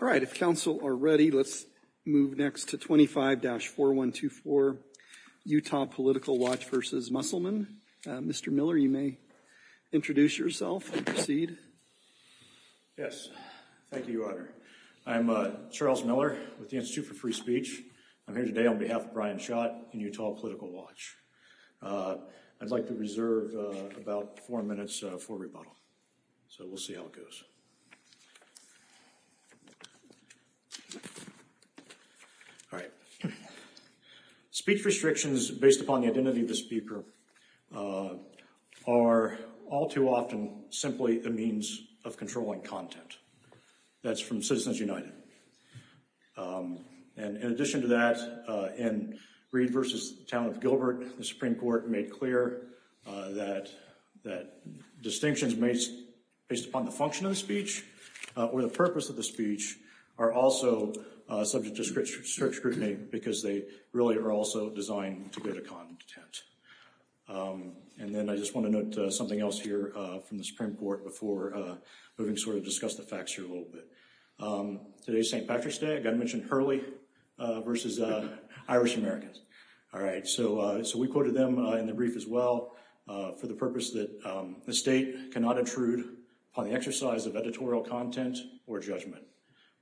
Alright, if Council are ready, let's move next to 25-4124, Utah Political Watch v. Musselman. Mr. Miller, you may introduce yourself and proceed. Yes, thank you, Your Honor. I'm Charles Miller with the Institute for Free Speech. I'm here today on behalf of Brian Schott and Utah Political Watch. I'd like to reserve about four minutes for rebuttal, so we'll see how it goes. Alright. Speech restrictions based upon the identity of the speaker are all too often simply a means of controlling content. That's from Citizens United. And in addition to that, in Reed v. Town of Gilbert, the Supreme Court made clear that distinctions based upon the function of the speech or the purpose of the speech are also subject to strict scrutiny because they really are also designed to go to content. And then I just want to note something else here from the Supreme Court before we sort of discuss the facts here a little bit. Today is St. Patrick's Day. I've got to mention Hurley v. Irish Americans. Alright, so we quoted them in the brief as well for the purpose that the state cannot intrude upon the exercise of editorial content or judgment.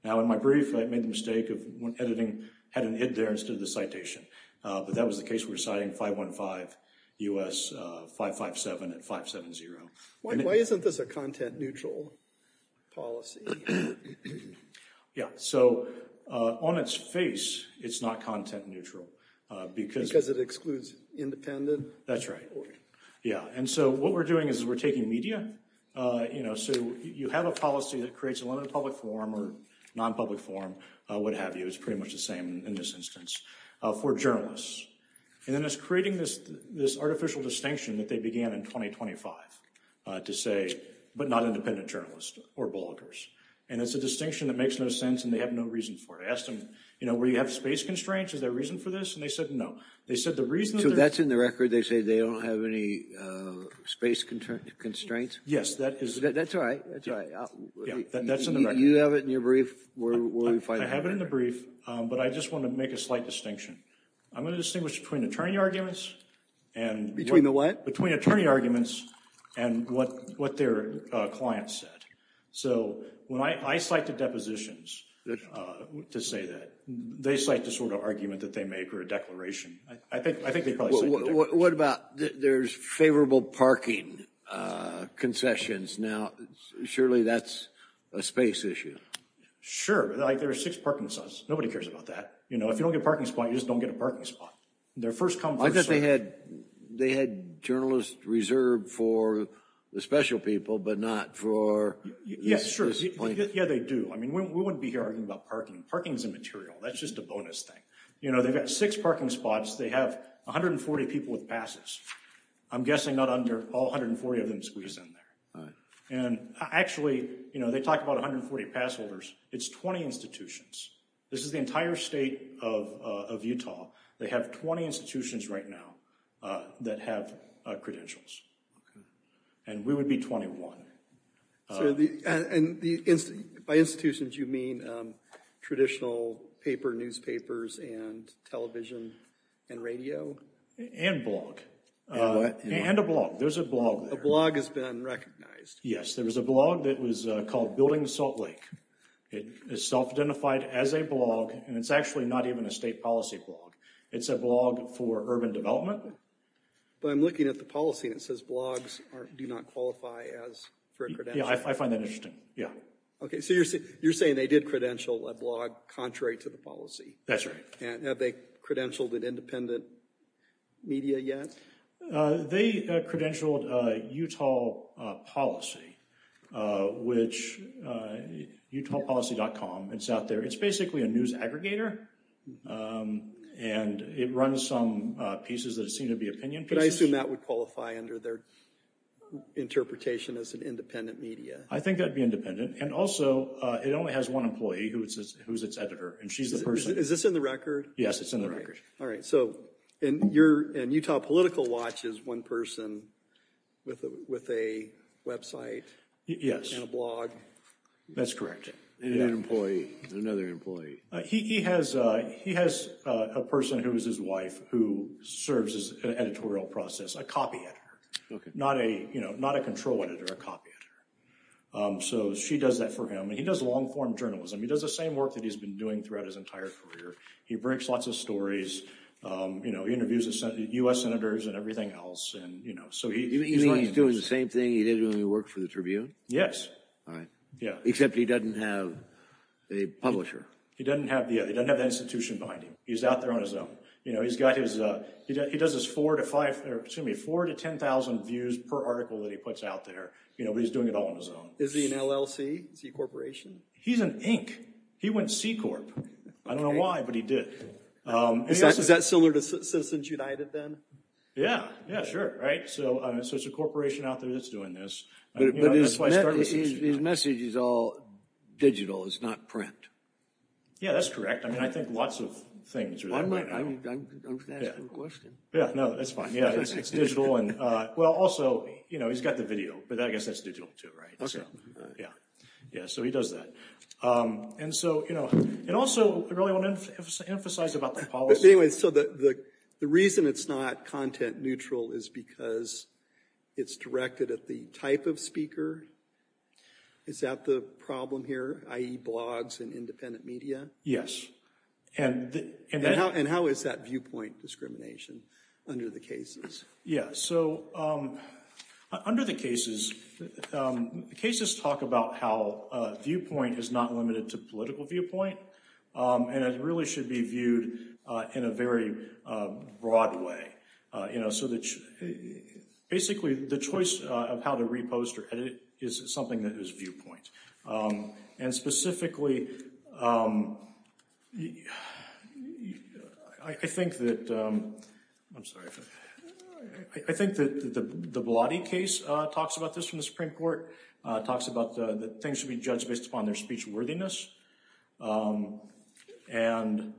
Now, in my brief, I made the mistake of when editing, had an id there instead of the citation. But that was the case we were citing 515 U.S. 557 and 570. Why isn't this a content neutral policy? Yeah, so on its face, it's not content neutral because it excludes independent. That's right. Yeah. And so what we're doing is we're taking media, you know, so you have a policy that creates a limited public forum or nonpublic forum, what have you. It's pretty much the same in this instance for journalists. And then it's creating this this artificial distinction that they began in 2025 to say, but not independent journalists or bloggers. And it's a distinction that makes no sense. And they have no reason for it. I asked them, you know, where you have space constraints. Is there a reason for this? And they said no. They said the reason that's in the record, they say they don't have any space constraints. Yes, that is. That's right. That's right. That's in the right. You have it in your brief. I have it in the brief, but I just want to make a slight distinction. I'm going to distinguish between attorney arguments and between the what between attorney arguments and what what their clients said. So when I cite the depositions to say that they cite the sort of argument that they make or a declaration. I think I think what about there's favorable parking concessions. Surely that's a space issue. Sure. There are six parking spots. Nobody cares about that. You know, if you don't get a parking spot, you just don't get a parking spot. Their first come first serve. I thought they had they had journalists reserved for the special people, but not for. Yeah, sure. Yeah, they do. I mean, we wouldn't be here talking about parking. Parking's immaterial. That's just a bonus thing. You know, they've got six parking spots. They have 140 people with passes. I'm guessing not under all 140 of them squeeze in there. And actually, you know, they talk about 140 pass holders. It's 20 institutions. This is the entire state of Utah. They have 20 institutions right now that have credentials. And we would be 21. And by institutions, you mean traditional paper, newspapers and television and radio? And blog. And a blog. There's a blog. A blog has been recognized. Yes, there was a blog that was called Building Salt Lake. It is self-identified as a blog, and it's actually not even a state policy blog. It's a blog for urban development. But I'm looking at the policy and it says blogs do not qualify as for a credential. Yeah, I find that interesting. Yeah. OK, so you're saying they did credential a blog contrary to the policy. That's right. And have they credentialed an independent media yet? They credentialed Utah Policy, which UtahPolicy.com, it's out there. It's basically a news aggregator, and it runs some pieces that seem to be opinion pieces. But I assume that would qualify under their interpretation as an independent media. I think that would be independent. And also, it only has one employee who is its editor, and she's the person. Is this in the record? Yes, it's in the record. All right, and Utah Political Watch is one person with a website and a blog. Yes, that's correct. And another employee. He has a person who is his wife who serves as an editorial process, a copy editor, not a control editor, a copy editor. So she does that for him, and he does long-form journalism. He does the same work that he's been doing throughout his entire career. He breaks lots of stories. He interviews U.S. senators and everything else. You mean he's doing the same thing he did when he worked for the Tribune? Yes. All right, except he doesn't have a publisher. He doesn't have that institution behind him. He's out there on his own. He does his 4,000 to 10,000 views per article that he puts out there, but he's doing it all on his own. Is he an LLC? Is he a corporation? He's an Inc. He went C-Corp. I don't know why, but he did. Is that Citizens United then? Yes, sure. So it's a corporation out there that's doing this. But his message is all digital. It's not print. Yes, that's correct. I think lots of things are that way. I'm going to ask him a question. No, that's fine. It's digital. Well, also, he's got the video, but I guess that's digital too, right? Yeah, so he does that. And also, I really want to emphasize about the policy. So the reason it's not content neutral is because it's directed at the type of speaker? Is that the problem here, i.e., blogs and independent media? Yes. And how is that viewpoint discrimination under the cases? Yeah, so under the cases, the cases talk about how viewpoint is not limited to political viewpoint. And it really should be viewed in a very broad way. So basically, the choice of how to repost or edit is something that is viewpoint. And specifically, I think that the Blatty case talks about this from the Supreme Court, talks about that things should be judged based upon their speechworthiness and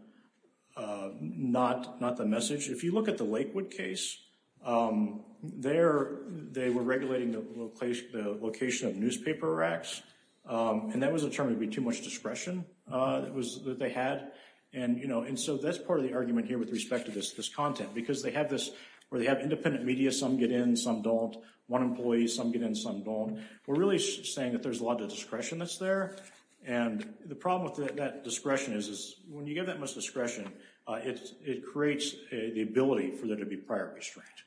not the message. If you look at the Lakewood case, they were regulating the location of newspaper racks, and that was determined to be too much discretion that they had. And so that's part of the argument here with respect to this content because they have this where they have independent media, some get in, some don't, one employee, some get in, some don't. We're really saying that there's a lot of discretion that's there. And the problem with that discretion is when you get that much discretion, it creates the ability for there to be prior restraint.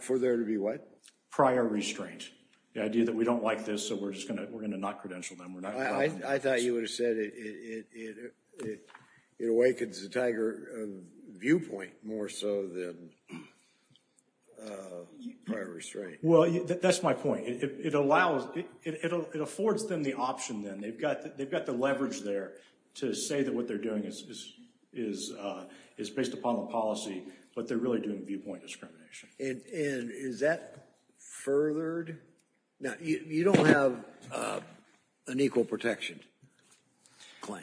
For there to be what? Prior restraint, the idea that we don't like this, so we're going to not credential them. I thought you would have said it awakens the Tiger viewpoint more so than prior restraint. Well, that's my point. It allows, it affords them the option then. They've got the leverage there to say that what they're doing is based upon the policy, but they're really doing viewpoint discrimination. And is that furthered? Now, you don't have an equal protection claim.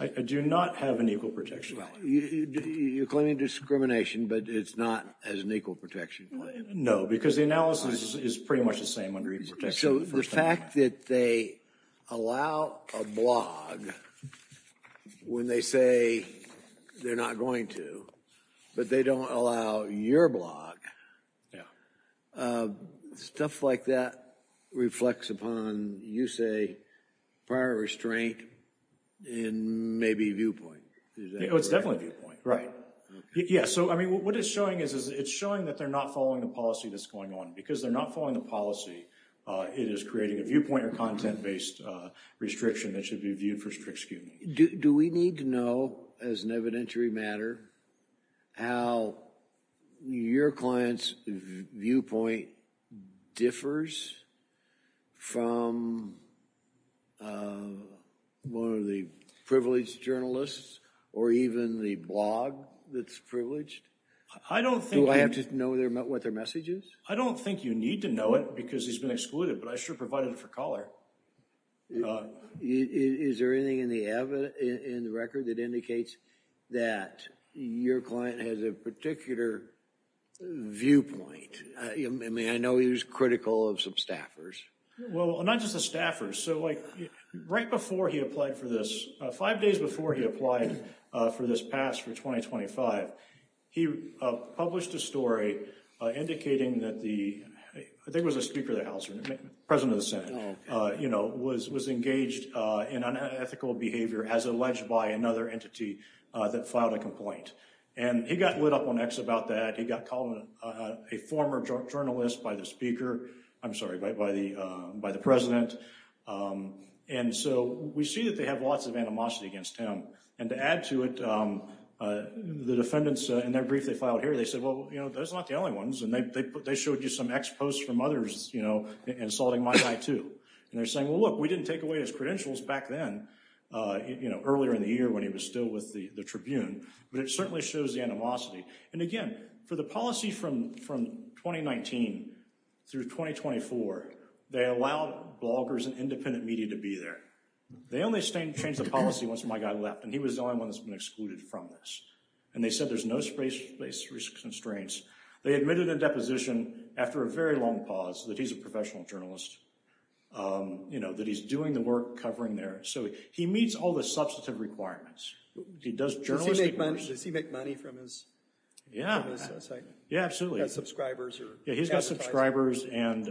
I do not have an equal protection claim. Well, you're claiming discrimination, but it's not as an equal protection claim. No, because the analysis is pretty much the same under equal protection. So the fact that they allow a blog when they say they're not going to, but they don't allow your blog, stuff like that reflects upon, you say, prior restraint and maybe viewpoint. It's definitely viewpoint. Right. Yeah. So, I mean, what it's showing is it's showing that they're not following the policy that's going on. Because they're not following the policy, it is creating a viewpoint or content-based restriction that should be viewed for strict scrutiny. Do we need to know, as an evidentiary matter, how your client's viewpoint differs from one of the privileged journalists or even the blog that's privileged? I don't think— Do I have to know what their message is? I don't think you need to know it because he's been excluded, but I sure provided it for color. Is there anything in the record that indicates that your client has a particular viewpoint? I mean, I know he was critical of some staffers. Well, not just the staffers. Right before he applied for this—five days before he applied for this pass for 2025, he published a story indicating that the—I think it was the Speaker of the House or the President of the Senate—was engaged in unethical behavior as alleged by another entity that filed a complaint. And he got lit up on X about that. He got called a former journalist by the Speaker—I'm sorry, by the President. And so we see that they have lots of animosity against him. And to add to it, the defendants, in their brief they filed here, they said, well, you know, those are not the only ones. And they showed you some X posts from others, you know, insulting my guy, too. And they're saying, well, look, we didn't take away his credentials back then, you know, earlier in the year when he was still with the Tribune. But it certainly shows the animosity. And again, for the policy from 2019 through 2024, they allowed bloggers and independent media to be there. They only changed the policy once my guy left, and he was the only one that's been excluded from this. And they said there's no space constraints. They admitted in deposition after a very long pause that he's a professional journalist, you know, that he's doing the work covering there. So he meets all the substantive requirements. Does he make money from his site? Yeah, absolutely. Yeah, he's got subscribers, and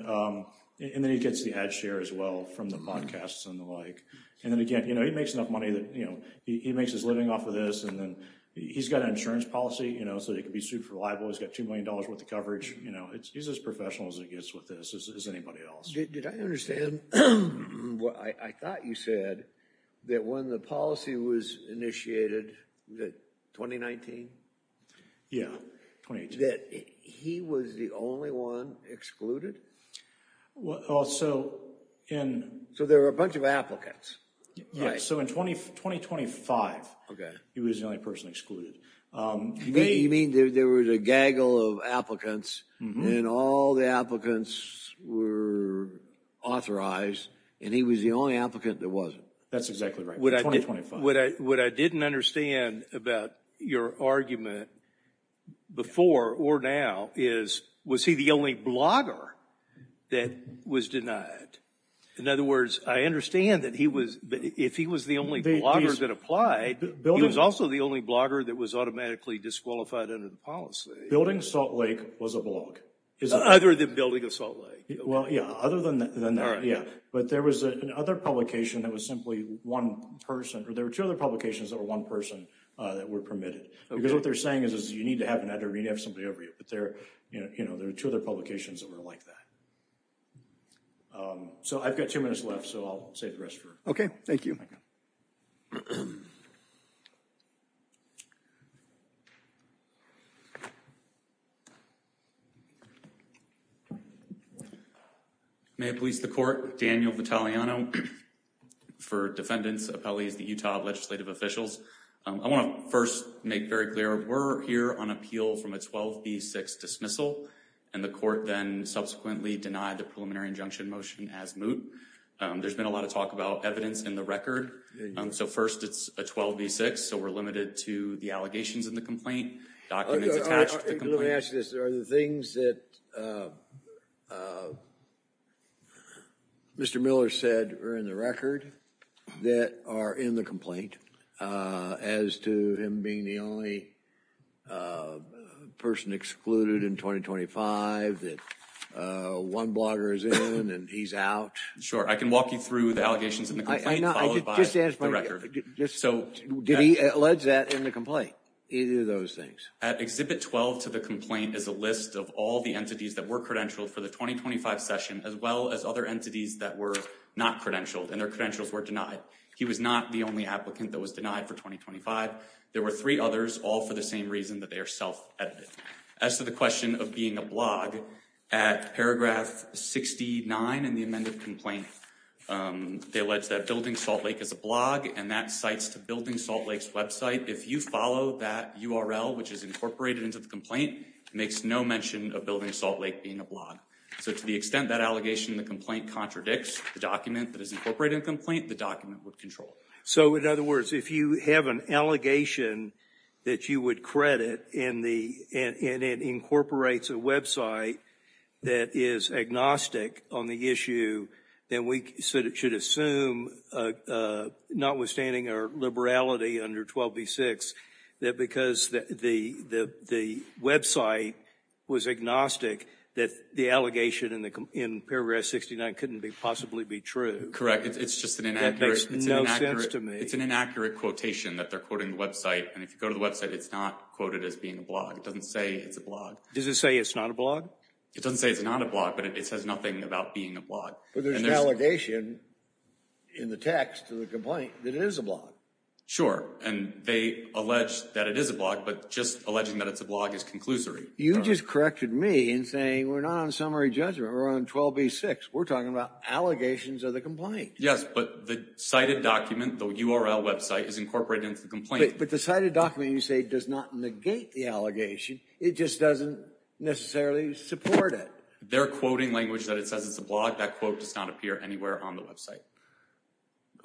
then he gets the ad share as well from the podcasts and the like. And then again, you know, he makes enough money that, you know, he makes his living off of this. And then he's got an insurance policy, you know, so he can be sued for libel. He's got $2 million worth of coverage. You know, he's as professional as he gets with this as anybody else. Did I understand what I thought you said that when the policy was initiated in 2019? Yeah, 2019. That he was the only one excluded? Well, so in... So there were a bunch of applicants, right? Yeah, so in 2025, he was the only person excluded. You mean there was a gaggle of applicants, and all the applicants were authorized, and he was the only applicant that wasn't? That's exactly right. What I didn't understand about your argument before or now is, was he the only blogger that was denied? In other words, I understand that if he was the only blogger that applied, he was also the only blogger that was automatically disqualified under the policy. Building Salt Lake was a blog. Other than Building Salt Lake. Well, yeah, other than that, yeah. But there was another publication that was simply one person, or there were two other publications that were one person that were permitted. Because what they're saying is you need to have an editor, you need to have somebody over you. But there are two other publications that were like that. So I've got two minutes left, so I'll save the rest for... Okay, thank you. May it please the court. Daniel Vitaliano for defendants, appellees, the Utah legislative officials. I want to first make very clear, we're here on appeal from a 12B6 dismissal, and the court then subsequently denied the preliminary injunction motion as moot. There's been a lot of talk about evidence in the record. So first, it's a 12B6, so we're limited to the allegations in the complaint, documents attached to the complaint. Let me ask you this. Are the things that Mr. Miller said are in the record that are in the complaint, as to him being the only person excluded in 2025, that one blogger is in and he's out? Sure, I can walk you through the allegations in the complaint, followed by the record. Did he allege that in the complaint, either of those things? At Exhibit 12 to the complaint is a list of all the entities that were credentialed for the 2025 session, as well as other entities that were not credentialed, and their credentials were denied. He was not the only applicant that was denied for 2025. There were three others, all for the same reason, that they are self-edited. As to the question of being a blog, at paragraph 69 in the amended complaint, they allege that Building Salt Lake is a blog, and that cites to Building Salt Lake's website. If you follow that URL, which is incorporated into the complaint, it makes no mention of Building Salt Lake being a blog. So to the extent that allegation in the complaint contradicts the document that is incorporated in the complaint, the document would control it. So in other words, if you have an allegation that you would credit, and it incorporates a website that is agnostic on the issue, then we should assume, notwithstanding our liberality under 12b-6, that because the website was agnostic, that the allegation in paragraph 69 couldn't possibly be true. Correct. It's just an inaccuracy. No sense to me. It's an inaccurate quotation that they're quoting the website, and if you go to the website, it's not quoted as being a blog. It doesn't say it's a blog. Does it say it's not a blog? It doesn't say it's not a blog, but it says nothing about being a blog. But there's an allegation in the text of the complaint that it is a blog. Sure, and they allege that it is a blog, but just alleging that it's a blog is conclusory. You just corrected me in saying we're not on summary judgment, we're on 12b-6. We're talking about allegations of the complaint. Yes, but the cited document, the URL website, is incorporated into the complaint. But the cited document, you say, does not negate the allegation. It just doesn't necessarily support it. They're quoting language that it says it's a blog. That quote does not appear anywhere on the website.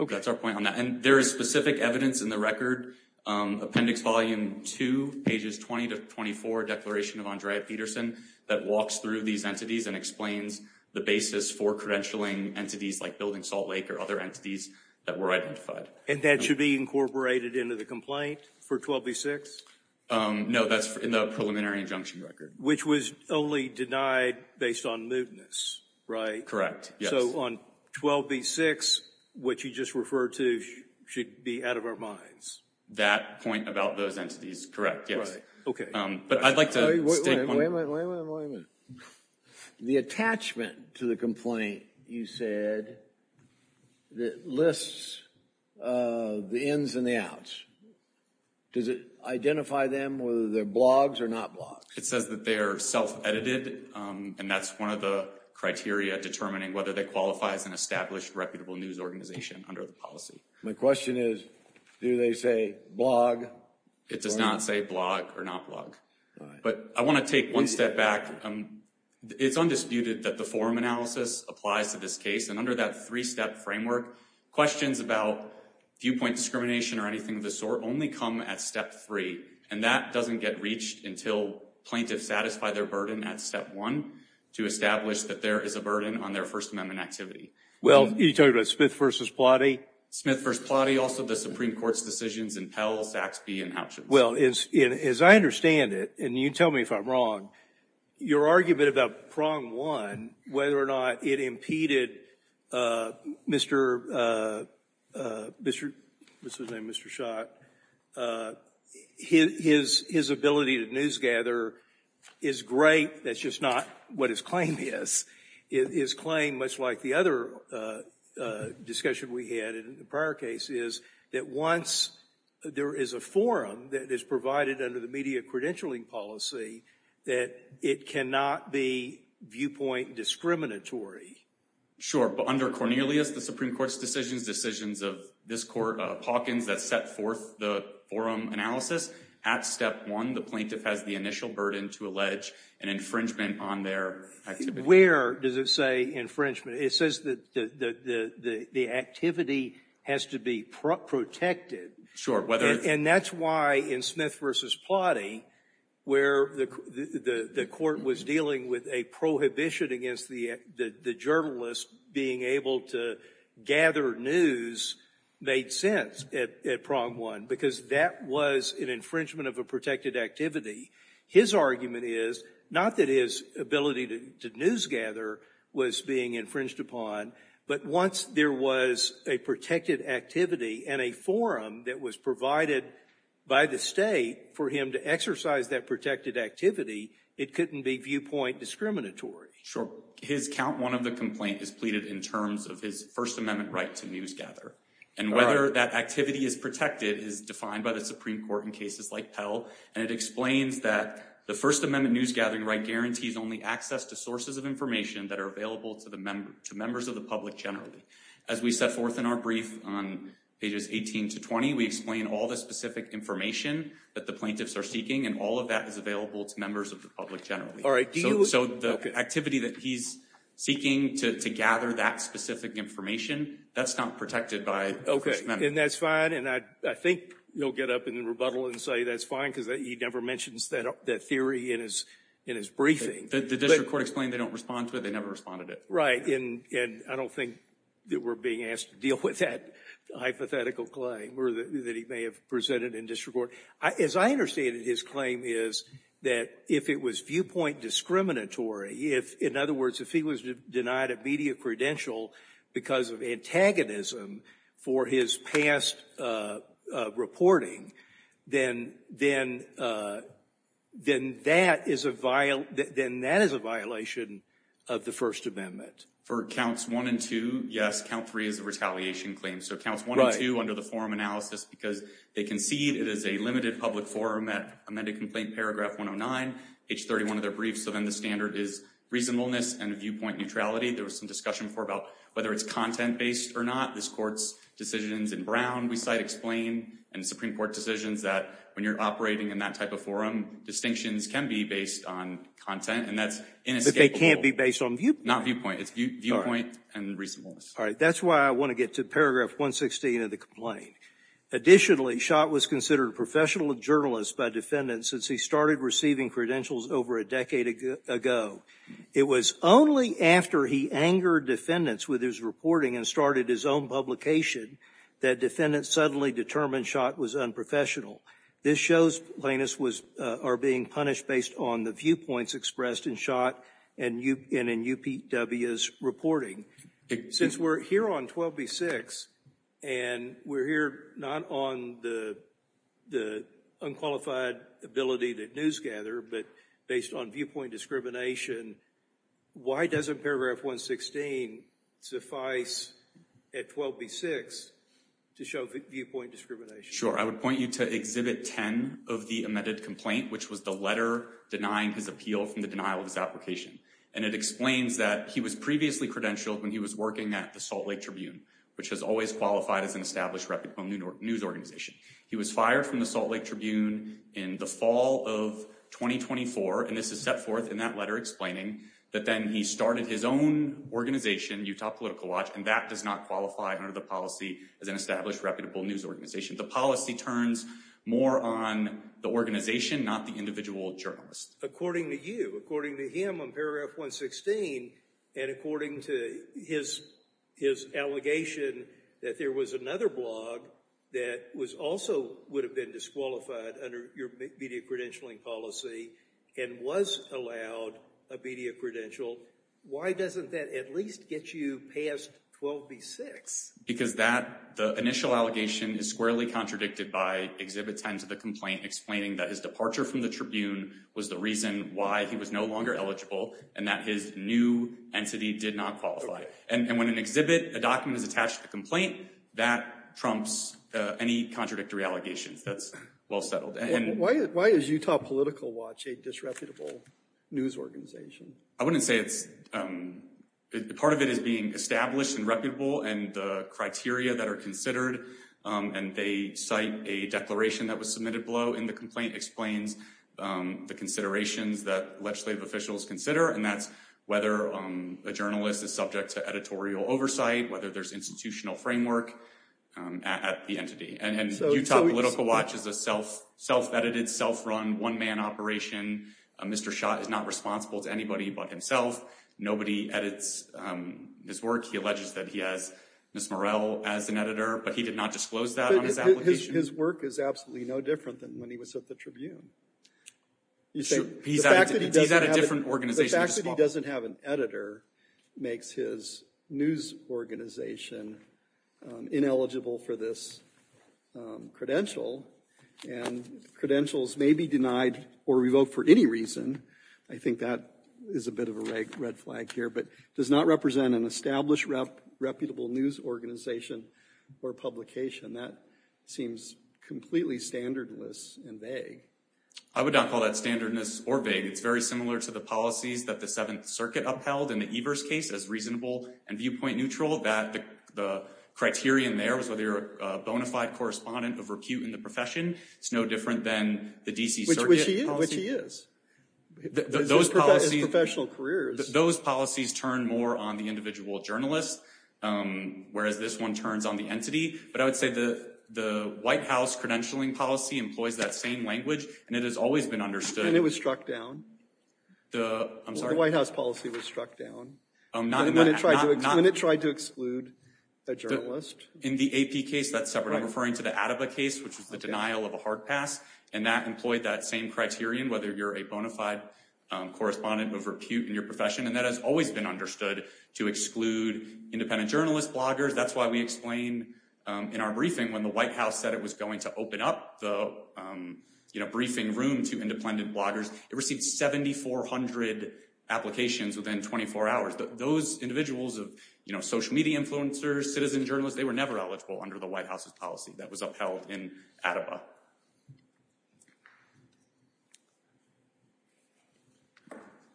Okay. That's our point on that. And there is specific evidence in the record, Appendix Volume 2, Pages 20-24, Declaration of Andrea Peterson, that walks through these entities and explains the basis for credentialing entities like Building Salt Lake or other entities that were identified. And that should be incorporated into the complaint for 12b-6? No, that's in the preliminary injunction record. Which was only denied based on mootness, right? Correct, yes. So on 12b-6, what you just referred to should be out of our minds? That point about those entities, correct, yes. Okay. But I'd like to state one more. Wait a minute, wait a minute, wait a minute. The attachment to the complaint, you said, that lists the ins and the outs, does it identify them whether they're blogs or not blogs? It says that they're self-edited, and that's one of the criteria determining whether they qualify as an established reputable news organization under the policy. My question is, do they say blog? It does not say blog or not blog. But I want to take one step back. It's undisputed that the forum analysis applies to this case, and under that three-step framework, questions about viewpoint discrimination or anything of the sort only come at step three, and that doesn't get reached until plaintiffs satisfy their burden at step one to establish that there is a burden on their First Amendment activity. Well, are you talking about Smith v. Plotty? Smith v. Plotty, also the Supreme Court's decisions in Pell, Saxby, and Hutchins. Well, as I understand it, and you tell me if I'm wrong, your argument about prong one, whether or not it impeded Mr. Schott, his ability to newsgather is great, that's just not what his claim is. His claim, much like the other discussion we had in the prior case, is that once there is a forum that is provided under the media credentialing policy, that it cannot be viewpoint discriminatory. Sure, but under Cornelius, the Supreme Court's decisions, decisions of this court, Hawkins, that set forth the forum analysis, at step one, the plaintiff has the initial burden to allege an infringement on their activity. Where does it say infringement? It says that the activity has to be protected. Sure. And that's why in Smith v. Plotty, where the court was dealing with a prohibition against the journalist being able to gather news made sense at prong one, because that was an infringement of a protected activity. His argument is not that his ability to newsgather was being infringed upon, but once there was a protected activity and a forum that was provided by the state for him to exercise that protected activity, it couldn't be viewpoint discriminatory. Sure. His count one of the complaint is pleaded in terms of his First Amendment right to newsgather. And whether that activity is protected is defined by the Supreme Court in cases like Pell, and it explains that the First Amendment newsgathering right guarantees only access to sources of information that are available to members of the public generally. As we set forth in our brief on pages 18 to 20, we explain all the specific information that the plaintiffs are seeking, and all of that is available to members of the public generally. So the activity that he's seeking to gather that specific information, that's not protected by First Amendment. And that's fine, and I think you'll get up in rebuttal and say that's fine, because he never mentions that theory in his briefing. The district court explained they don't respond to it, they never responded to it. Right, and I don't think that we're being asked to deal with that hypothetical claim that he may have presented in district court. As I understand it, his claim is that if it was viewpoint discriminatory, in other words, if he was denied immediate credential because of antagonism for his past reporting, then that is a violation of the First Amendment. For Counts 1 and 2, yes, Count 3 is a retaliation claim. So Counts 1 and 2 under the forum analysis, because they concede it is a limited public forum that amended Complaint Paragraph 109, page 31 of their brief. So then the standard is reasonableness and viewpoint neutrality. There was some discussion before about whether it's content-based or not. This Court's decisions in Brown, we cite, explain, and Supreme Court decisions that when you're operating in that type of forum, distinctions can be based on content, and that's inescapable. But they can't be based on viewpoint. Not viewpoint, it's viewpoint and reasonableness. All right, that's why I want to get to Paragraph 116 of the complaint. Additionally, Schott was considered a professional journalist by defendants since he started receiving credentials over a decade ago. It was only after he angered defendants with his reporting and started his own publication that defendants suddenly determined Schott was unprofessional. This shows plaintiffs are being punished based on the viewpoints expressed in Schott and in UPW's reporting. Since we're here on 12B6, and we're here not on the unqualified ability that news gather, but based on viewpoint discrimination, why doesn't Paragraph 116 suffice at 12B6 to show viewpoint discrimination? Sure, I would point you to Exhibit 10 of the amended complaint, which was the letter denying his appeal from the denial of his application. And it explains that he was previously credentialed when he was working at the Salt Lake Tribune, which has always qualified as an established reputable news organization. He was fired from the Salt Lake Tribune in the fall of 2024, and this is set forth in that letter explaining that then he started his own organization, Utah Political Watch, and that does not qualify under the policy as an established reputable news organization. The policy turns more on the organization, not the individual journalist. According to you, according to him on Paragraph 116, and according to his allegation that there was another blog that also would have been disqualified under your media credentialing policy and was allowed a media credential, why doesn't that at least get you past 12B6? Because the initial allegation is squarely contradicted by Exhibit 10 to the complaint, explaining that his departure from the Tribune was the reason why he was no longer eligible and that his new entity did not qualify. And when an exhibit, a document is attached to the complaint, that trumps any contradictory allegations. That's well settled. Why is Utah Political Watch a disreputable news organization? I wouldn't say it's – part of it is being established and reputable and the criteria that are considered, and they cite a declaration that was submitted below in the complaint, explains the considerations that legislative officials consider, and that's whether a journalist is subject to editorial oversight, whether there's institutional framework at the entity. And Utah Political Watch is a self-edited, self-run, one-man operation. Mr. Schott is not responsible to anybody but himself. Nobody edits his work. He alleges that he has Ms. Morel as an editor, but he did not disclose that on his application. But his work is absolutely no different than when he was at the Tribune. You say – He's at a different organization. The fact that he doesn't have an editor makes his news organization ineligible for this credential, and credentials may be denied or revoked for any reason. I think that is a bit of a red flag here. But does not represent an established reputable news organization or publication. That seems completely standardless and vague. I would not call that standardness or vague. It's very similar to the policies that the Seventh Circuit upheld in the Evers case as reasonable and viewpoint neutral, that the criterion there was whether you're a bona fide correspondent of repute in the profession. It's no different than the D.C. Circuit policy. Which he is. Those policies – His professional career is – Those policies turn more on the individual journalist, whereas this one turns on the entity. But I would say the White House credentialing policy employs that same language, and it has always been understood – And it was struck down. I'm sorry? The White House policy was struck down. When it tried to exclude a journalist. In the AP case, that's separate. Which is the denial of a hard pass. And that employed that same criterion, whether you're a bona fide correspondent of repute in your profession. And that has always been understood to exclude independent journalist bloggers. That's why we explain in our briefing when the White House said it was going to open up the briefing room to independent bloggers, it received 7,400 applications within 24 hours. Those individuals of social media influencers, citizen journalists, they were never eligible under the White House's policy. That was upheld in ADIPA.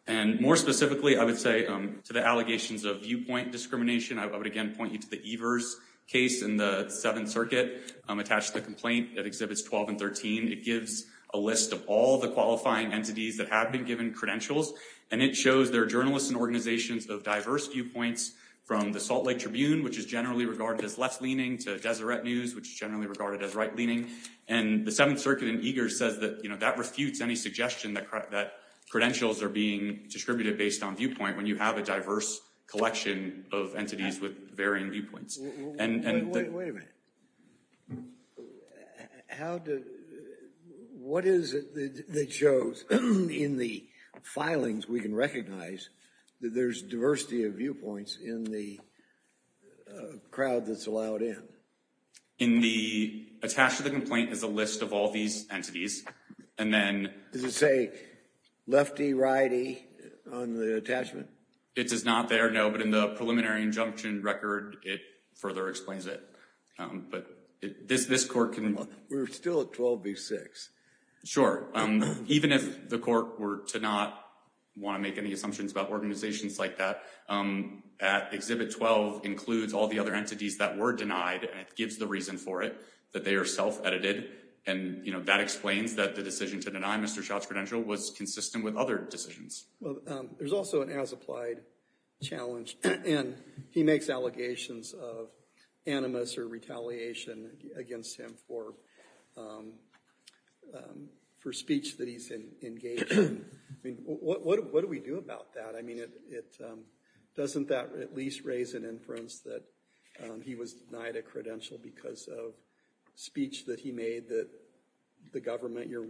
And more specifically, I would say to the allegations of viewpoint discrimination, I would again point you to the Evers case in the Seventh Circuit. Attached to the complaint that exhibits 12 and 13. It gives a list of all the qualifying entities that have been given credentials. And it shows their journalists and organizations of diverse viewpoints from the Salt Lake Tribune, which is generally regarded as left-leaning, to Deseret News, which is generally regarded as right-leaning. And the Seventh Circuit in Evers says that that refutes any suggestion that credentials are being distributed based on viewpoint when you have a diverse collection of entities with varying viewpoints. Wait a minute. What is it that shows in the filings we can recognize that there's diversity of viewpoints in the crowd that's allowed in? Attached to the complaint is a list of all these entities. Does it say lefty, righty on the attachment? It does not there, no. But in the preliminary injunction record, it further explains it. But this court can... We're still at 12 v. 6. Sure. Even if the court were to not want to make any assumptions about organizations like that, Exhibit 12 includes all the other entities that were denied. And it gives the reason for it, that they are self-edited. And that explains that the decision to deny Mr. Schott's credential was consistent with other decisions. Well, there's also an as-applied challenge. And he makes allegations of animus or retaliation against him for speech that he's engaged in. I mean, what do we do about that? I mean, doesn't that at least raise an inference that he was denied a credential because of speech that he made that the government, your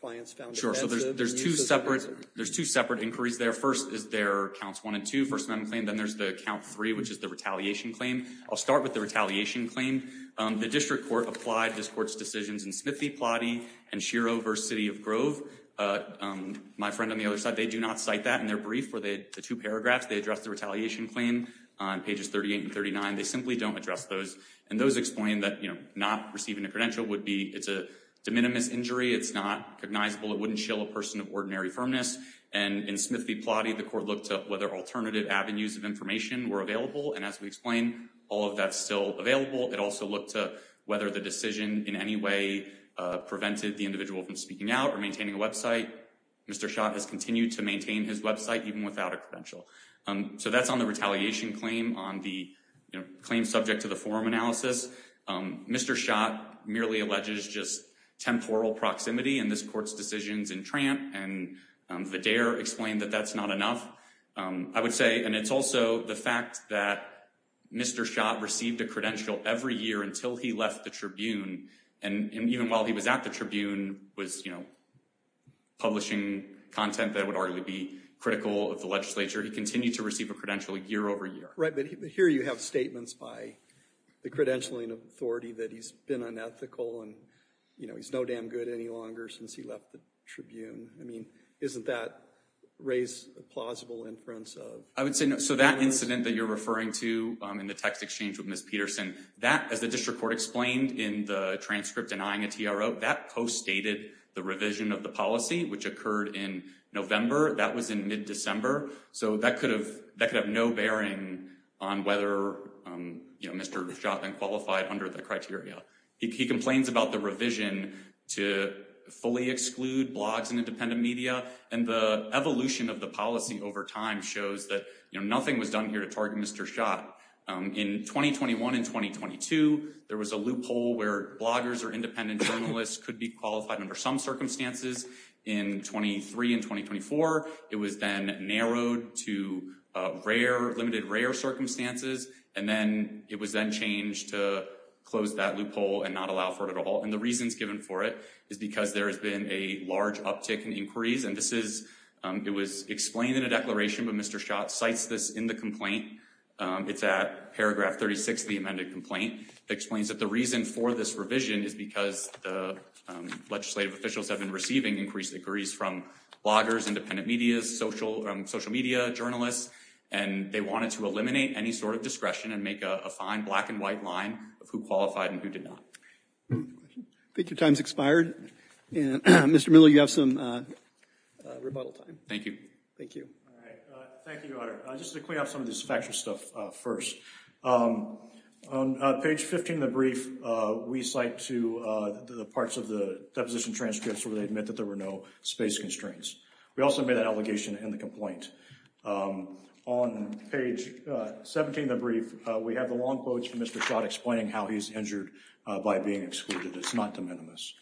clients found offensive? Sure. So there's two separate inquiries there. First is their counts one and two, first amendment claim. Then there's the count three, which is the retaliation claim. I'll start with the retaliation claim. The district court applied this court's decisions in Smithy, Plotty, and Schiro v. City of Grove. My friend on the other side, they do not cite that in their brief where the two paragraphs, they address the retaliation claim on pages 38 and 39. They simply don't address those. And those explain that not receiving a credential would be, it's a de minimis injury. It's not recognizable. It wouldn't shill a person of ordinary firmness. And in Smithy, Plotty, the court looked up whether alternative avenues of information were available. And as we explain, all of that's still available. It also looked to whether the decision in any way prevented the individual from speaking out or maintaining a website. Mr. Schott has continued to maintain his website even without a credential. So that's on the retaliation claim on the claim subject to the forum analysis. Mr. Schott merely alleges just temporal proximity in this court's decisions in Tramp. And Vidaire explained that that's not enough, I would say. And it's also the fact that Mr. Schott received a credential every year until he left the Tribune. And even while he was at the Tribune, was, you know, publishing content that would arguably be critical of the legislature, he continued to receive a credential year over year. Right, but here you have statements by the credentialing authority that he's been unethical and, you know, he's no damn good any longer since he left the Tribune. I mean, isn't that raised a plausible inference of? I would say no. So that incident that you're referring to in the text exchange with Ms. Peterson, that, as the district court explained in the transcript denying a TRO, that co-stated the revision of the policy, which occurred in November. That was in mid-December. So that could have no bearing on whether Mr. Schott then qualified under the criteria. He complains about the revision to fully exclude blogs and independent media. And the evolution of the policy over time shows that nothing was done here to target Mr. Schott. In 2021 and 2022, there was a loophole where bloggers or independent journalists could be qualified under some circumstances. In 23 and 2024, it was then narrowed to rare, limited rare circumstances. And then it was then changed to close that loophole and not allow for it at all. And the reasons given for it is because there has been a large uptick in inquiries. And this is it was explained in a declaration, but Mr. Schott cites this in the complaint. It's at paragraph 36 of the amended complaint. It explains that the reason for this revision is because the legislative officials have been receiving increased inquiries from bloggers, independent media, social media, journalists. And they wanted to eliminate any sort of discretion and make a fine black and white line of who qualified and who did not. I think your time's expired. Mr. Miller, you have some rebuttal time. Thank you. Thank you. Thank you, Your Honor. Just to clean up some of this factual stuff first. On page 15 of the brief, we cite to the parts of the deposition transcripts where they admit that there were no space constraints. We also made an allegation in the complaint. On page 17 of the brief, we have the long quotes from Mr. Schott explaining how he's injured by being excluded. It's not de minimis.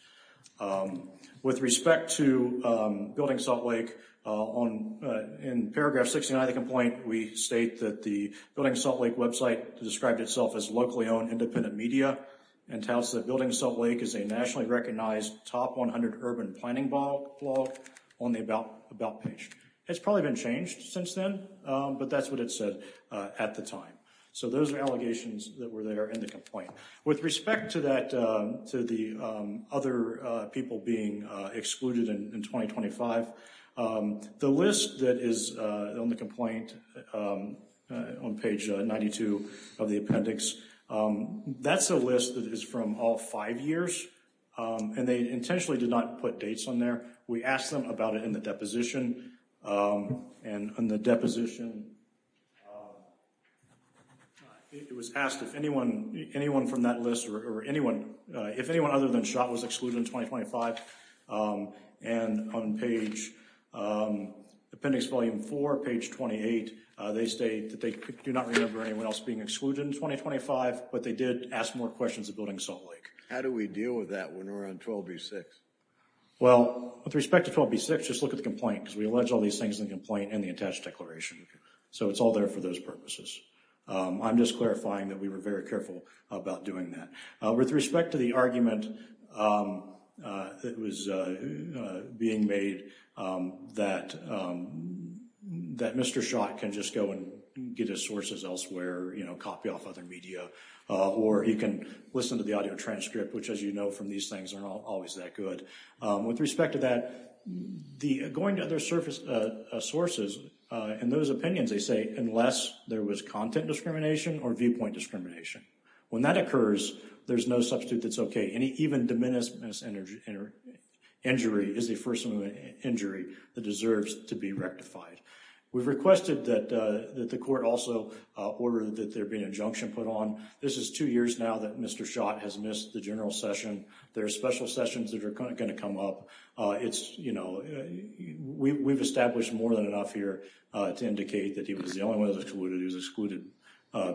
With respect to Building Salt Lake, in paragraph 69 of the complaint, we state that the Building Salt Lake website described itself as locally owned independent media and touts that Building Salt Lake is a nationally recognized top 100 urban planning blog on the about page. It's probably been changed since then, but that's what it said at the time. So those are allegations that were there in the complaint. With respect to the other people being excluded in 2025, the list that is on the complaint on page 92 of the appendix, that's a list that is from all five years, and they intentionally did not put dates on there. We asked them about it in the deposition, and on the deposition, it was asked if anyone other than Schott was excluded in 2025, and on appendix volume 4, page 28, they state that they do not remember anyone else being excluded in 2025, but they did ask more questions of Building Salt Lake. How do we deal with that when we're on 12B6? Well, with respect to 12B6, just look at the complaint, because we allege all these things in the complaint and the attached declaration. So it's all there for those purposes. I'm just clarifying that we were very careful about doing that. With respect to the argument that was being made that Mr. Schott can just go and get his sources elsewhere, copy off other media, or he can listen to the audio transcript, which, as you know from these things, are not always that good. With respect to that, going to other sources, in those opinions, they say unless there was content discrimination or viewpoint discrimination. When that occurs, there's no substitute that's okay. Any even diminished injury is the first injury that deserves to be rectified. We've requested that the court also order that there be an injunction put on. This is two years now that Mr. Schott has missed the general session. There are special sessions that are going to come up. We've established more than enough here to indicate that he was the only one that was excluded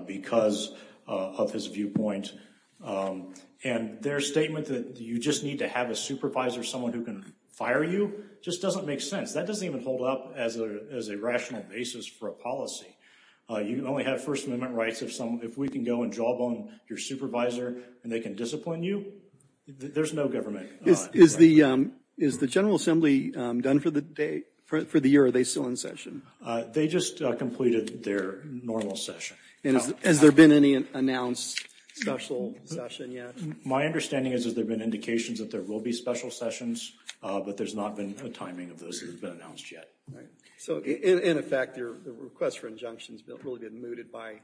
because of his viewpoint. And their statement that you just need to have a supervisor, someone who can fire you, just doesn't make sense. That doesn't even hold up as a rational basis for a policy. You can only have First Amendment rights if we can go and jawbone your supervisor and they can discipline you. There's no government. Is the General Assembly done for the year? Are they still in session? They just completed their normal session. Has there been any announced special session yet? My understanding is that there have been indications that there will be special sessions, but there's not been a timing of those that have been announced yet. In effect, your request for injunction has really been mooted by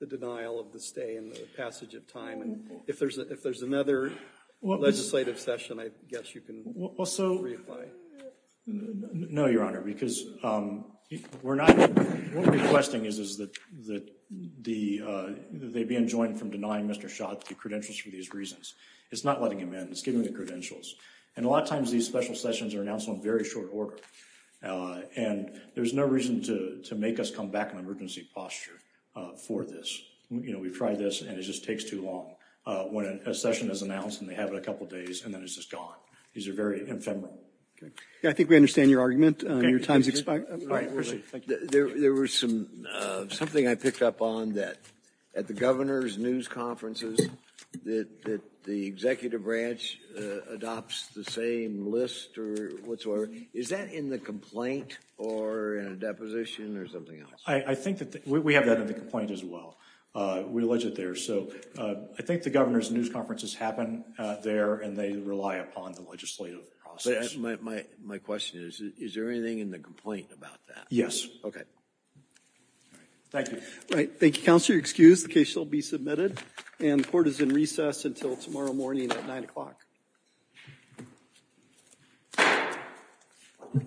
the denial of the stay and the passage of time. If there's another legislative session, I guess you can reapply. No, Your Honor, because what we're requesting is that they be enjoined from denying Mr. Schott the credentials for these reasons. It's not letting him in. It's giving him the credentials. And a lot of times these special sessions are announced on very short order. And there's no reason to make us come back in emergency posture for this. You know, we've tried this and it just takes too long. When a session is announced and they have it a couple of days and then it's just gone. These are very ephemeral. I think we understand your argument and your time is expired. There was something I picked up on that at the governor's news conferences that the executive branch adopts the same list or whatsoever. Is that in the complaint or in a deposition or something else? I think that we have that in the complaint as well. We allege it there. So I think the governor's news conferences happen there and they rely upon the legislative process. My question is, is there anything in the complaint about that? Yes. Okay. Thank you. Right. Thank you, Counselor. You're excused. The case shall be submitted. And the court is in recess until tomorrow morning at 9 o'clock.